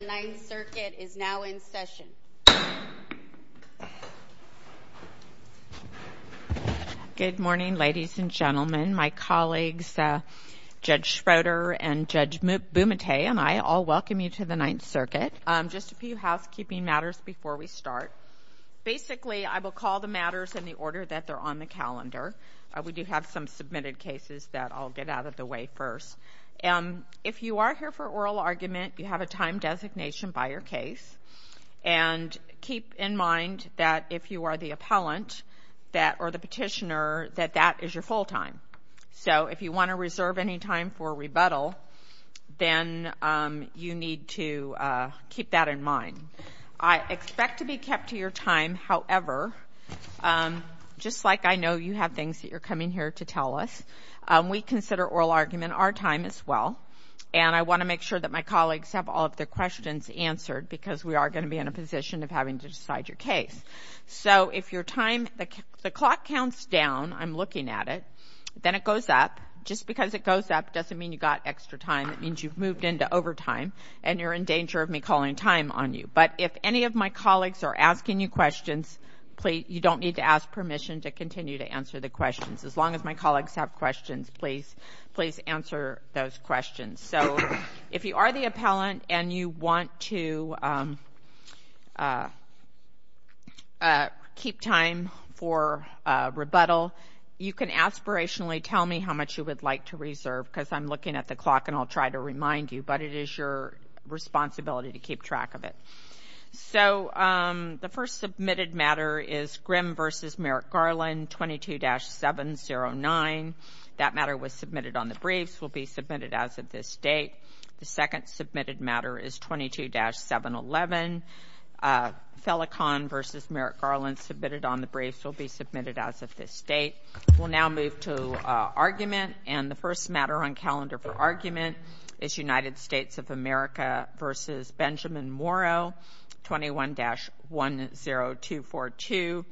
The 9th Circuit is now in session. Good morning, ladies and gentlemen. My colleagues, Judge Schroeder and Judge Bumate, and I all welcome you to the 9th Circuit. Just a few housekeeping matters before we start. Basically, I will call the matters in the order that they're on the calendar. We do have some submitted cases that I'll get out of the way first. If you are here for oral argument, you have a time designation by your case. And keep in mind that if you are the appellant or the petitioner, that that is your full time. So if you want to reserve any time for rebuttal, then you need to keep that in mind. I expect to be kept to your time. However, just like I know you have things that you're coming here to tell us, we consider oral argument our time as well. And I want to make sure that my colleagues have all of their questions answered, because we are going to be in a position of having to decide your case. So if the clock counts down, I'm looking at it, then it goes up. Just because it goes up doesn't mean you got extra time. It means you've moved into overtime and you're in danger of me calling time on you. But if any of my colleagues are asking you questions, you don't need to ask permission to continue to answer the questions. As long as my colleagues have questions, please answer those questions. So if you are the appellant and you want to keep time for rebuttal, you can aspirationally tell me how much you would like to reserve, because I'm looking at the clock and I'll try to remind you. But it is your responsibility to keep track of it. So the first submitted matter is Grimm v. Merrick-Garland, 22-709. That matter was submitted on the briefs, will be submitted as of this date. The second submitted matter is 22-711. Felicon v. Merrick-Garland, submitted on the briefs, will be submitted as of this date. We'll now move to argument. And the first matter on calendar for argument is United States of America v. Benjamin Morrow, 21-10242.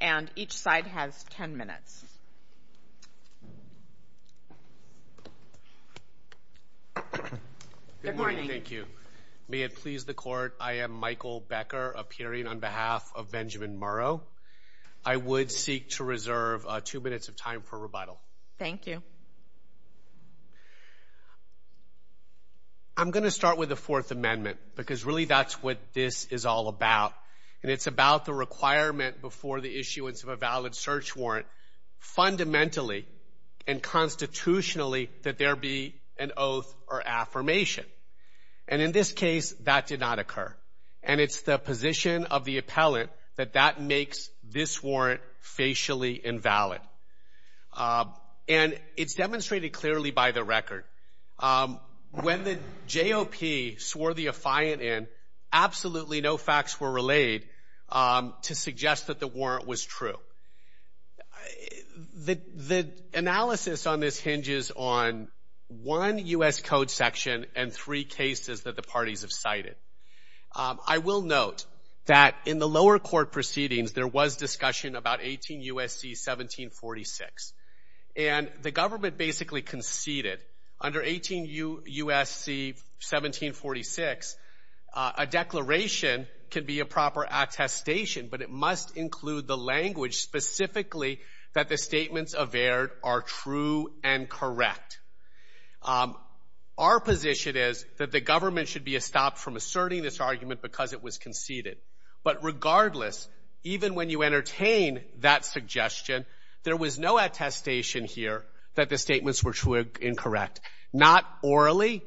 And each side has 10 minutes. Good morning. Thank you. May it please the Court, I am Michael Becker, appearing on behalf of Benjamin Morrow. Thank you. I'm going to start with the Fourth Amendment, because really that's what this is all about. And it's about the requirement before the issuance of a valid search warrant fundamentally and constitutionally that there be an oath or affirmation. And in this case, that did not occur. And it's the position of the appellant that that makes this warrant facially invalid. And it's demonstrated clearly by the record. When the JOP swore the affiant in, absolutely no facts were relayed to suggest that the warrant was true. The analysis on this hinges on one U.S. Code section and three cases that the parties have cited. I will note that in the lower court proceedings, there was discussion about 18 U.S.C. 1746. And the government basically conceded under 18 U.S.C. 1746, a declaration can be a proper attestation, but it must include the language specifically that the statements averred are true and correct. Our position is that the government should be stopped from asserting this argument because it was conceded. But regardless, even when you entertain that suggestion, there was no attestation here that the statements were true and correct. Not orally,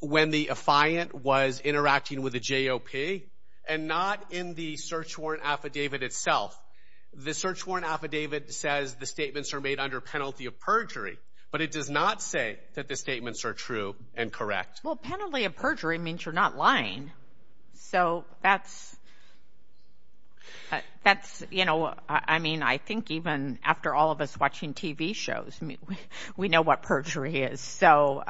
when the affiant was interacting with the JOP, and not in the search warrant affidavit itself. The search warrant affidavit says the statements are made under penalty of perjury, but it does not say that the statements are true and correct. Well, penalty of perjury means you're not lying. So that's, you know, I mean, I think even after all of us watching TV shows, we know what perjury is. So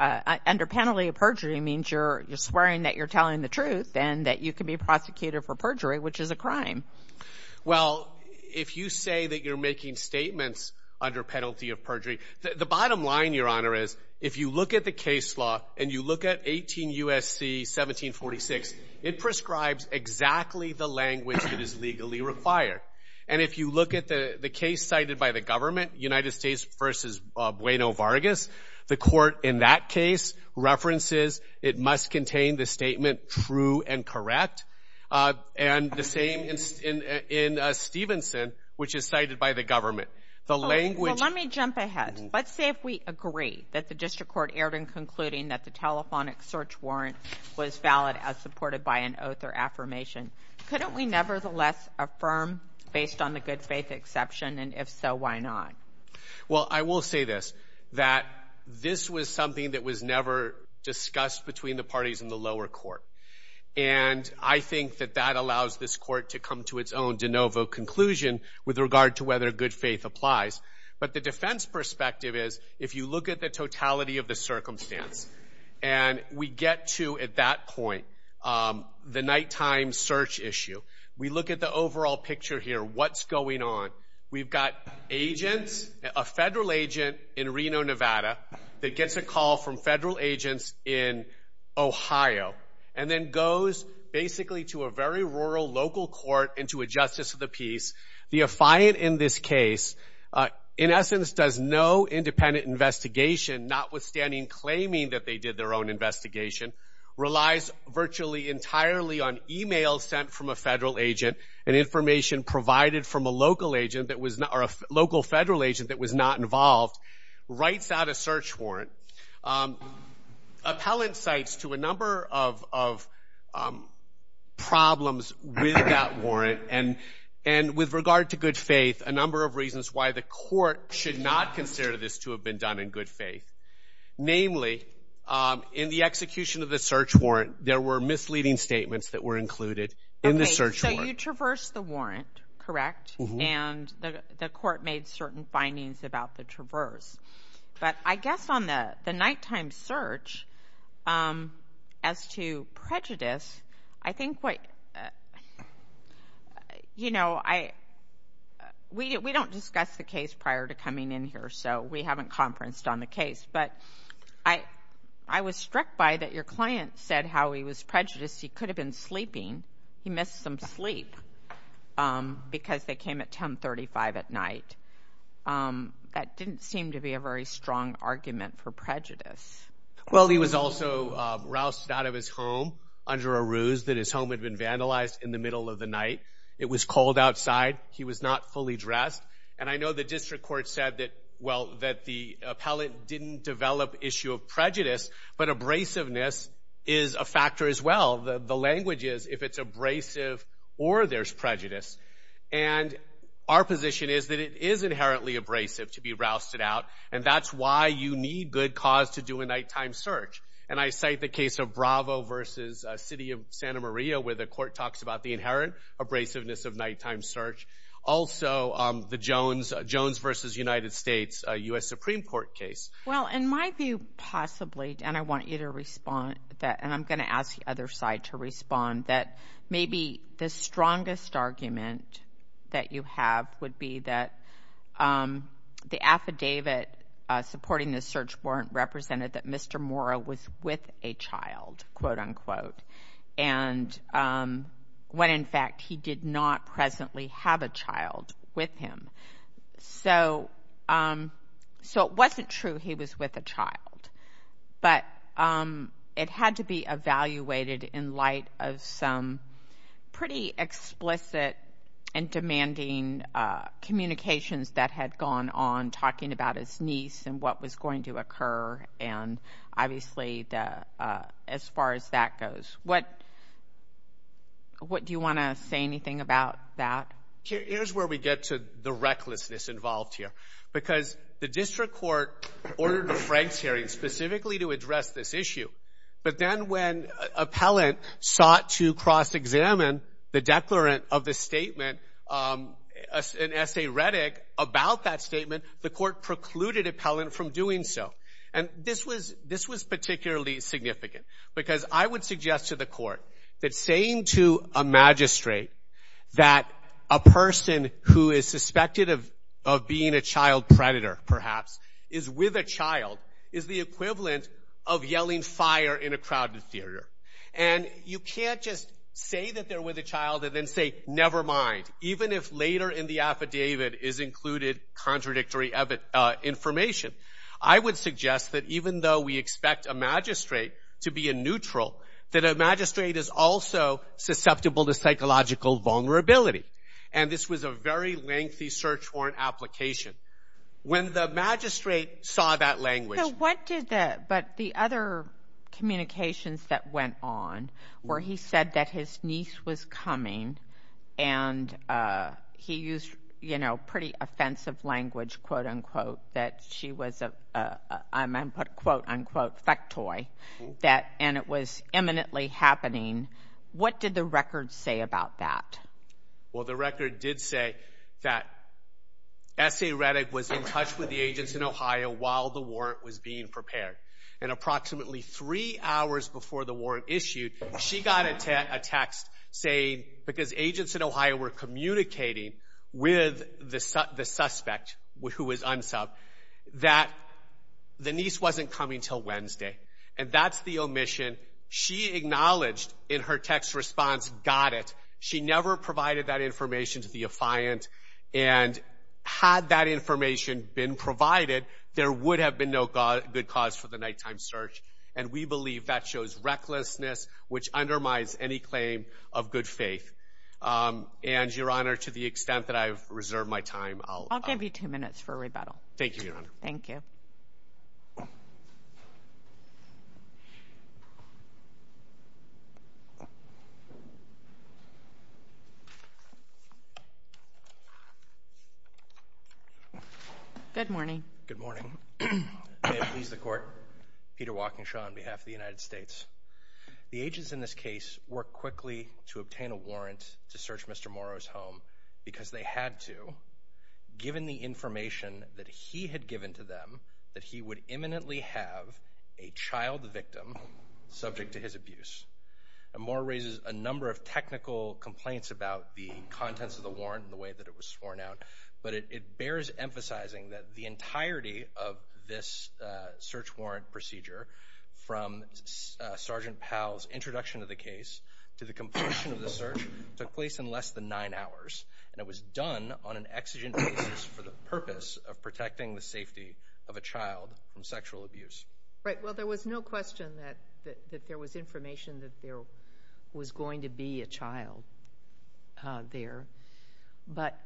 under penalty of perjury means you're swearing that you're telling the truth and that you can be prosecuted for perjury, which is a crime. Well, if you say that you're making statements under penalty of perjury, the bottom line, Your Honor, is if you look at the case law and you look at 18 U.S.C. 1746, it prescribes exactly the language that is legally required. And if you look at the case cited by the government, United States v. Bueno Vargas, the court in that case references it must contain the statement true and correct. And the same in Stevenson, which is cited by the government. The language – Well, let me jump ahead. Let's say if we agree that the district court erred in concluding that the telephonic search warrant was valid as supported by an oath or affirmation. Couldn't we nevertheless affirm based on the good faith exception? And if so, why not? Well, I will say this, that this was something that was never discussed between the parties in the lower court. And I think that that allows this court to come to its own de novo conclusion with regard to whether good faith applies. But the defense perspective is if you look at the totality of the circumstance, and we get to at that point the nighttime search issue, we look at the overall picture here. What's going on? We've got agents, a federal agent in Reno, Nevada, that gets a call from federal agents in Ohio and then goes basically to a very rural local court and to a justice of the peace. The affiant in this case, in essence, does no independent investigation, notwithstanding claiming that they did their own investigation, relies virtually entirely on e-mails sent from a federal agent and information provided from a local federal agent that was not involved, writes out a search warrant, appellant cites to a number of problems with that warrant and with regard to good faith a number of reasons why the court should not consider this to have been done in good faith. Namely, in the execution of the search warrant, there were misleading statements that were included in the search warrant. Okay, so you traversed the warrant, correct? And the court made certain findings about the traverse. But I guess on the nighttime search, as to prejudice, I think what, you know, we don't discuss the case prior to coming in here, so we haven't conferenced on the case. But I was struck by that your client said how he was prejudiced. He could have been sleeping. He missed some sleep because they came at 1035 at night. That didn't seem to be a very strong argument for prejudice. Well, he was also roused out of his home under a ruse that his home had been vandalized in the middle of the night. It was cold outside. He was not fully dressed. And I know the district court said that, well, that the appellant didn't develop issue of prejudice, but abrasiveness is a factor as well. The language is if it's abrasive or there's prejudice. And our position is that it is inherently abrasive to be roused out, and that's why you need good cause to do a nighttime search. And I cite the case of Bravo v. City of Santa Maria, where the court talks about the inherent abrasiveness of nighttime search. Also, the Jones v. United States U.S. Supreme Court case. Well, in my view, possibly, and I want you to respond to that, and I'm going to ask the other side to respond, that maybe the strongest argument that you have would be that the affidavit supporting this search warrant represented that Mr. Mora was with a child, quote, unquote, when, in fact, he did not presently have a child with him. So it wasn't true he was with a child. But it had to be evaluated in light of some pretty explicit and demanding communications that had gone on talking about his niece and what was going to occur and, obviously, as far as that goes. What do you want to say anything about that? Here's where we get to the recklessness involved here. Because the district court ordered a Franks hearing specifically to address this issue, but then when appellant sought to cross-examine the declarant of the statement, an essay reddick about that statement, the court precluded appellant from doing so. And this was particularly significant because I would suggest to the court that saying to a magistrate that a person who is suspected of being a child predator, perhaps, is with a child, is the equivalent of yelling fire in a crowded theater. And you can't just say that they're with a child and then say, never mind, even if later in the affidavit is included contradictory information. I would suggest that even though we expect a magistrate to be a neutral, that a magistrate is also susceptible to psychological vulnerability. And this was a very lengthy search warrant application. When the magistrate saw that language. But the other communications that went on where he said that his niece was coming and he used, you know, pretty offensive language, quote, unquote, that she was a, I'm going to put a quote, unquote, fectoy, and it was imminently happening, what did the record say about that? Well, the record did say that essay reddick was in touch with the agents in Ohio while the warrant was being prepared. And approximately three hours before the warrant issued, she got a text saying, because agents in Ohio were communicating with the suspect, who was unsub, that the niece wasn't coming until Wednesday. And that's the omission. She acknowledged in her text response, got it. She never provided that information to the affiant. And had that information been provided, there would have been no good cause for the nighttime search. And we believe that shows recklessness, which undermines any claim of good faith. And, Your Honor, to the extent that I've reserved my time. I'll give you two minutes for rebuttal. Thank you, Your Honor. Thank you. Good morning. Good morning. May it please the Court. Peter Walkinshaw on behalf of the United States. The agents in this case worked quickly to obtain a warrant to search Mr. Morrow's home because they had to, given the information that he had given to them, that he would imminently have a child victim subject to his abuse. And Morrow raises a number of technical complaints about the contents of the warrant and the way that it was sworn out. But it bears emphasizing that the entirety of this search warrant procedure, from Sergeant Powell's introduction of the case to the completion of the search, took place in less than nine hours. And it was done on an exigent basis for the purpose of protecting the safety of a child from sexual abuse. Right. Well, there was no question that there was information that there was going to be a child there. But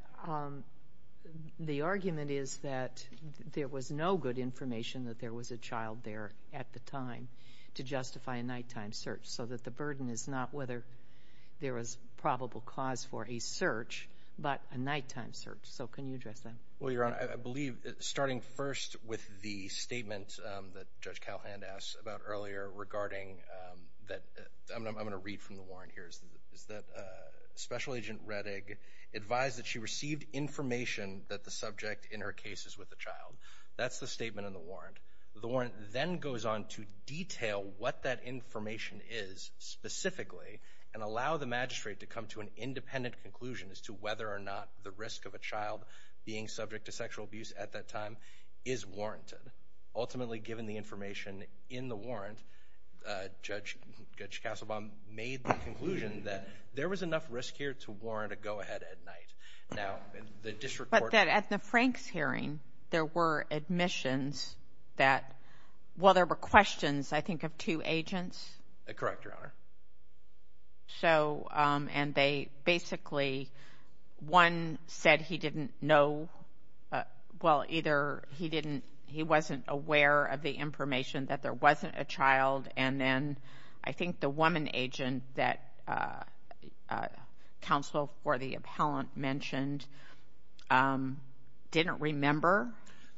the argument is that there was no good information that there was a child there at the time to justify a nighttime search. So that the burden is not whether there was probable cause for a search, but a nighttime search. So can you address that? Well, Your Honor, I believe starting first with the statement that Judge Calhoun asked about earlier regarding that, I'm going to read from the warrant here, is that Special Agent Rettig advised that she received information that the subject in her case is with a child. That's the statement in the warrant. The warrant then goes on to detail what that information is specifically and allow the magistrate to come to an independent conclusion as to whether or not the risk of a child being subject to sexual abuse at that time is warranted. Ultimately, given the information in the warrant, Judge Castlebaum made the conclusion that there was enough risk here to warrant a go-ahead at night. But at the Franks hearing, there were admissions that – well, there were questions, I think, of two agents. Correct, Your Honor. So – and they basically – one said he didn't know – well, either he didn't – he wasn't aware of the information that there wasn't a child and then I think the woman agent that counsel for the appellant mentioned didn't remember.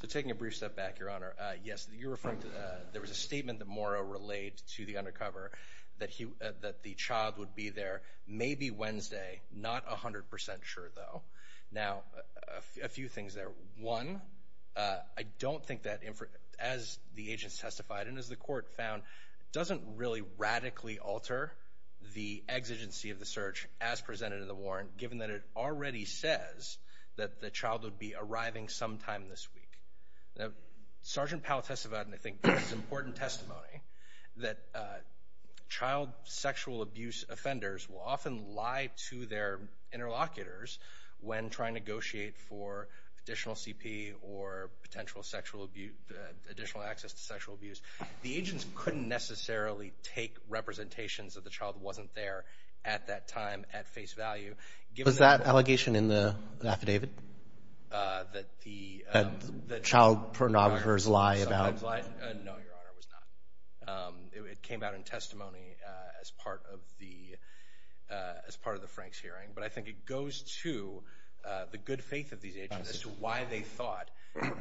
So taking a brief step back, Your Honor, yes, you referred to – there was a statement that Morrow relayed to the undercover that the child would be there maybe Wednesday, not 100 percent sure, though. Now, a few things there. One, I don't think that, as the agents testified and as the court found, doesn't really radically alter the exigency of the search as presented in the warrant, given that it already says that the child would be arriving sometime this week. Now, Sergeant Powell testified, and I think this is important testimony, that child sexual abuse offenders will often lie to their interlocutors when trying to negotiate for additional CP or potential sexual abuse – additional access to sexual abuse. The agents couldn't necessarily take representations that the child wasn't there at that time at face value. Was that allegation in the affidavit? That the – That child pornographers lie about – No, Your Honor, it was not. It came out in testimony as part of the – as part of the Franks hearing. But I think it goes to the good faith of these agents as to why they thought.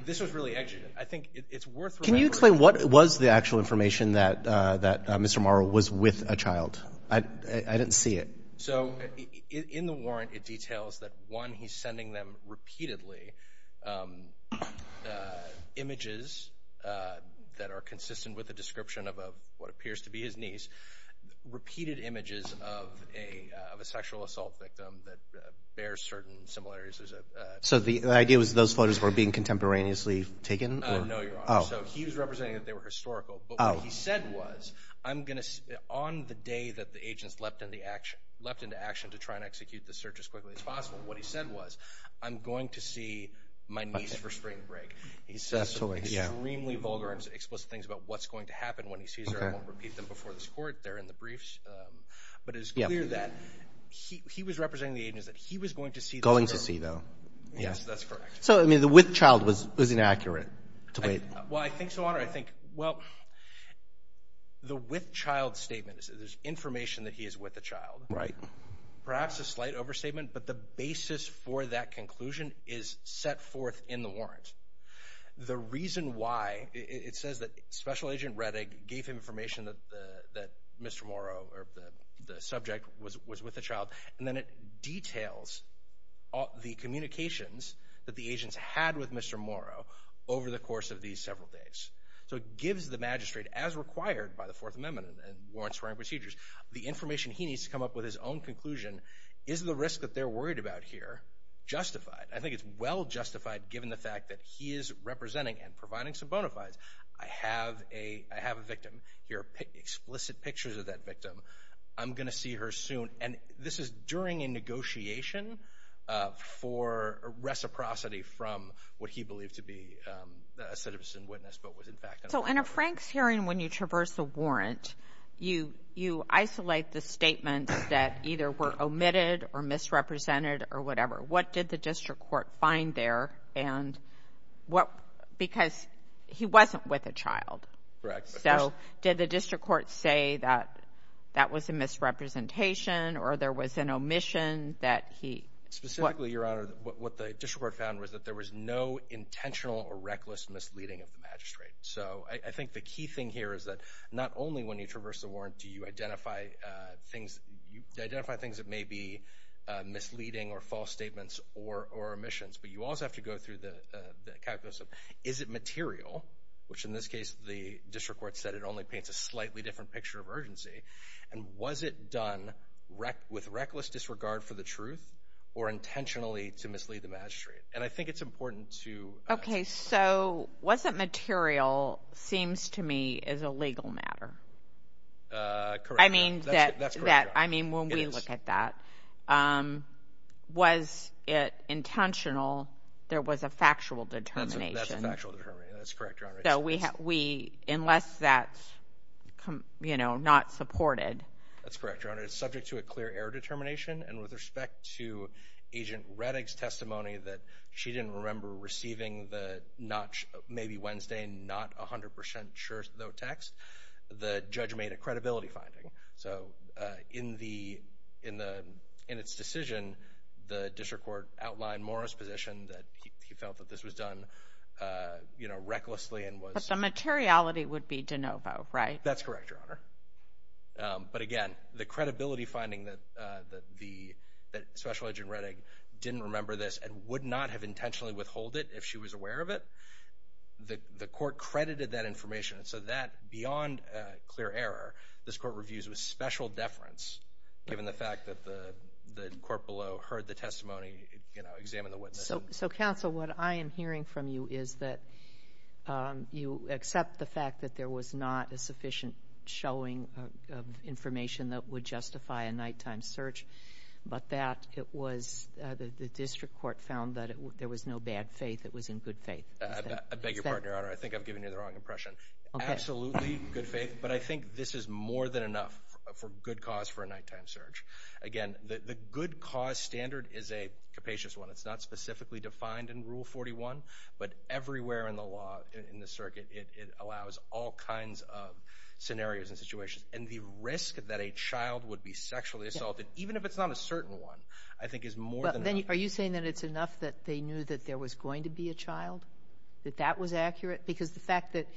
This was really – I think it's worth remembering. Can you explain what was the actual information that Mr. Morrow was with a child? I didn't see it. So in the warrant, it details that, one, he's sending them repeatedly images that are consistent with the description of what appears to be his niece, repeated images of a sexual assault victim that bears certain similarities. So the idea was those photos were being contemporaneously taken? No, Your Honor. So he was representing that they were historical. But what he said was, I'm going to – on the day that the agents leapt into action to try and execute the search as quickly as possible, what he said was, I'm going to see my niece for spring break. He says some extremely vulgar and explicit things about what's going to happen when he sees her. He won't repeat them before this court. They're in the briefs. But it's clear that he was representing the agents that he was going to see. Going to see, though. Yes, that's correct. So, I mean, the with child was inaccurate to wait. Well, I think so, Your Honor. I think – well, the with child statement is information that he is with a child. Right. The reason why – it says that Special Agent Rettig gave him information that Mr. Morrow, or the subject, was with a child. And then it details the communications that the agents had with Mr. Morrow over the course of these several days. So it gives the magistrate, as required by the Fourth Amendment and warrants for hiring procedures, the information he needs to come up with his own conclusion. Is the risk that they're worried about here justified? I think it's well justified, given the fact that he is representing and providing some bona fides. I have a victim here, explicit pictures of that victim. I'm going to see her soon. And this is during a negotiation for reciprocity from what he believed to be a citizen witness, but was in fact – So in a Franks hearing when you traverse the warrant, you isolate the statements that either were omitted or misrepresented or whatever. What did the district court find there? And what – because he wasn't with a child. Correct. So did the district court say that that was a misrepresentation or there was an omission that he – Specifically, Your Honor, what the district court found was that there was no intentional or reckless misleading of the magistrate. So I think the key thing here is that not only when you traverse the warrant do you identify things that may be misleading or false statements or omissions, but you also have to go through the calculus of is it material, which in this case the district court said it only paints a slightly different picture of urgency, and was it done with reckless disregard for the truth or intentionally to mislead the magistrate? And I think it's important to – So was it material seems to me is a legal matter. Correct. That's correct, Your Honor. I mean, when we look at that, was it intentional? There was a factual determination. That's a factual determination. That's correct, Your Honor. So unless that's not supported – That's correct, Your Honor. It's subject to a clear error determination, and with respect to Agent Rettig's testimony that she didn't remember receiving the notch, maybe Wednesday, not 100% sure though text, the judge made a credibility finding. So in its decision, the district court outlined Mora's position that he felt that this was done, you know, recklessly and was – But the materiality would be de novo, right? That's correct, Your Honor. But again, the credibility finding that Special Agent Rettig didn't remember this and would not have intentionally withhold it if she was aware of it, the court credited that information. So that, beyond clear error, this court reviews with special deference, given the fact that the court below heard the testimony, you know, examined the witness. So, counsel, what I am hearing from you is that you accept the fact that there was not a sufficient showing of information that would justify a nighttime search, but that it was – the district court found that there was no bad faith. It was in good faith. I beg your pardon, Your Honor. I think I'm giving you the wrong impression. Absolutely good faith, but I think this is more than enough for good cause for a nighttime search. Again, the good cause standard is a capacious one. It's not specifically defined in Rule 41, but everywhere in the law, in the circuit, it allows all kinds of scenarios and situations. And the risk that a child would be sexually assaulted, even if it's not a certain one, I think is more than enough. Are you saying that it's enough that they knew that there was going to be a child, that that was accurate? Because the fact that,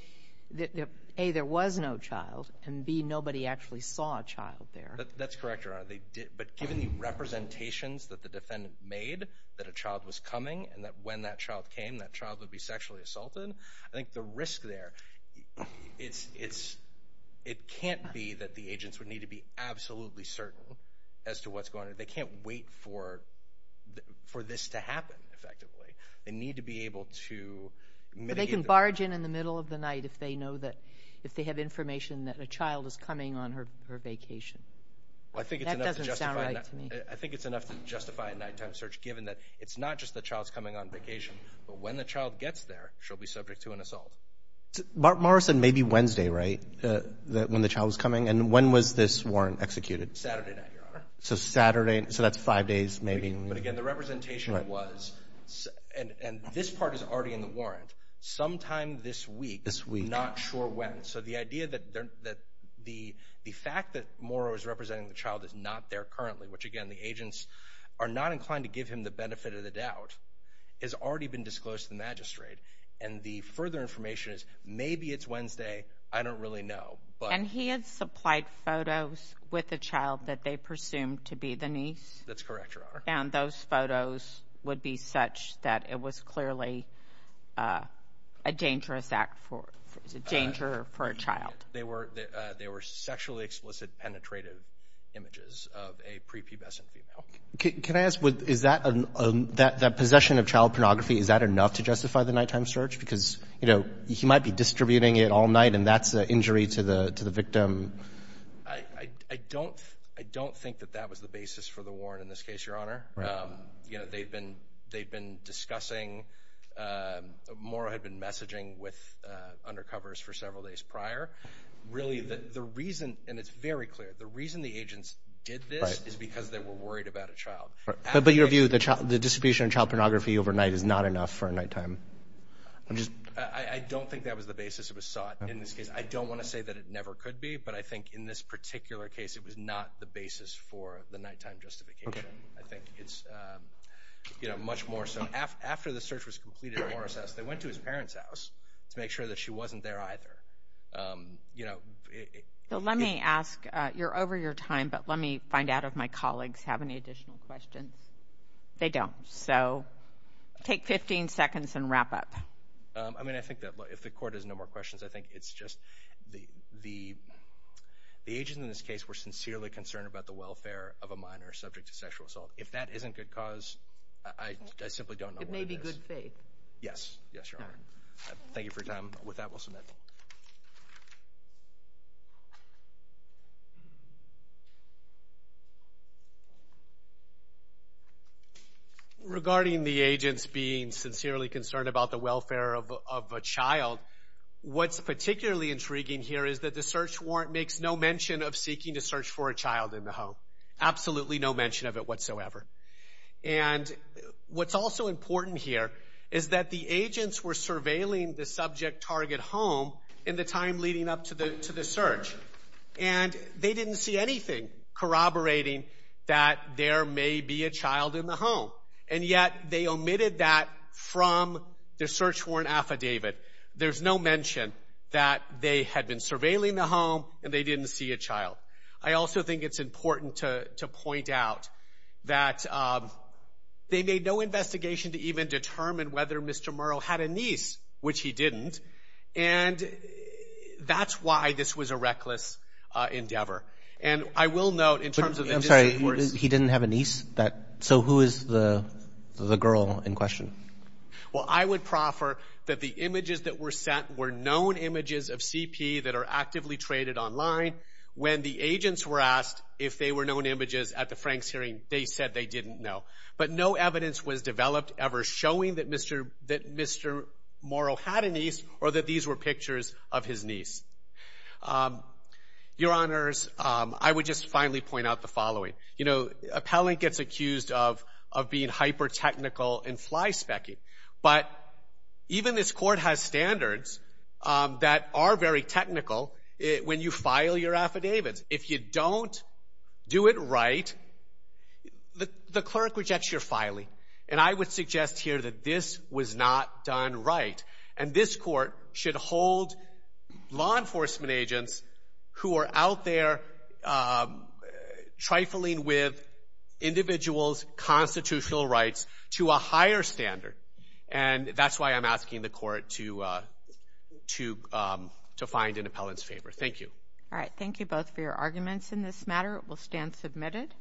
A, there was no child, and B, nobody actually saw a child there. That's correct, Your Honor. But given the representations that the defendant made that a child was coming and that when that child came, that child would be sexually assaulted, I think the risk there, it can't be that the agents would need to be absolutely certain as to what's going on. They can't wait for this to happen, effectively. They need to be able to mitigate the risk. But they can barge in in the middle of the night if they know that – if they have information that a child is coming on her vacation. That doesn't sound right to me. I think it's enough to justify a nighttime search, given that it's not just the child's coming on vacation, but when the child gets there, she'll be subject to an assault. Morrison may be Wednesday, right, when the child was coming? And when was this warrant executed? Saturday night, Your Honor. So Saturday. So that's five days, maybe. But again, the representation was – and this part is already in the warrant – sometime this week. This week. Not sure when. So the idea that the fact that Morrow is representing the child is not there currently, which, again, the agents are not inclined to give him the benefit of the doubt, has already been disclosed to the magistrate. And the further information is maybe it's Wednesday. I don't really know. And he had supplied photos with the child that they presumed to be the niece? That's correct, Your Honor. And those photos would be such that it was clearly a dangerous act for – danger for a child. They were sexually explicit penetrative images of a prepubescent female. Can I ask, is that – that possession of child pornography, is that enough to justify the nighttime search? Because, you know, he might be distributing it all night, and that's an injury to the victim. I don't think that that was the basis for the warrant in this case, Your Honor. Right. You know, they've been discussing – Morrow had been messaging with undercovers for several days prior. Really, the reason – and it's very clear – the reason the agents did this is because they were worried about a child. But your view, the distribution of child pornography overnight is not enough for a nighttime – I don't think that was the basis it was sought in this case. I don't want to say that it never could be, but I think in this particular case, it was not the basis for the nighttime justification. I think it's much more so – after the search was completed at Morrow's house, they went to his parents' house to make sure that she wasn't there either. Let me ask – you're over your time, but let me find out if my colleagues have any additional questions. They don't. So take 15 seconds and wrap up. I mean, I think that if the Court has no more questions, I think it's just the agents in this case were sincerely concerned about the welfare of a minor subject to sexual assault. If that isn't good cause, I simply don't know what it is. It may be good faith. Yes, Your Honor. Thank you for your time. With that, we'll submit. Thank you. Regarding the agents being sincerely concerned about the welfare of a child, what's particularly intriguing here is that the search warrant makes no mention of seeking to search for a child in the home. Absolutely no mention of it whatsoever. And what's also important here is that the agents were surveilling the subject target home in the time leading up to the search. And they didn't see anything corroborating that there may be a child in the home. And yet, they omitted that from their search warrant affidavit. There's no mention that they had been surveilling the home and they didn't see a child. I also think it's important to point out that they made no investigation to even determine whether Mr. Murrow had a niece, which he didn't. And that's why this was a reckless endeavor. And I will note in terms of the district courts. I'm sorry. He didn't have a niece? So who is the girl in question? Well, I would proffer that the images that were sent were known images of CP that are actively traded online. When the agents were asked if they were known images at the Franks hearing, they said they didn't know. But no evidence was developed ever showing that Mr. Murrow had a niece or that these were pictures of his niece. Your Honors, I would just finally point out the following. You know, appellant gets accused of being hyper-technical and fly-spec-y. But even this court has standards that are very technical when you file your affidavits. If you don't do it right, the clerk rejects your filing. And I would suggest here that this was not done right. And this court should hold law enforcement agents who are out there trifling with individuals' constitutional rights to a higher standard. And that's why I'm asking the court to find an appellant's favor. Thank you. All right. Thank you both for your arguments in this matter. It will stand submitted.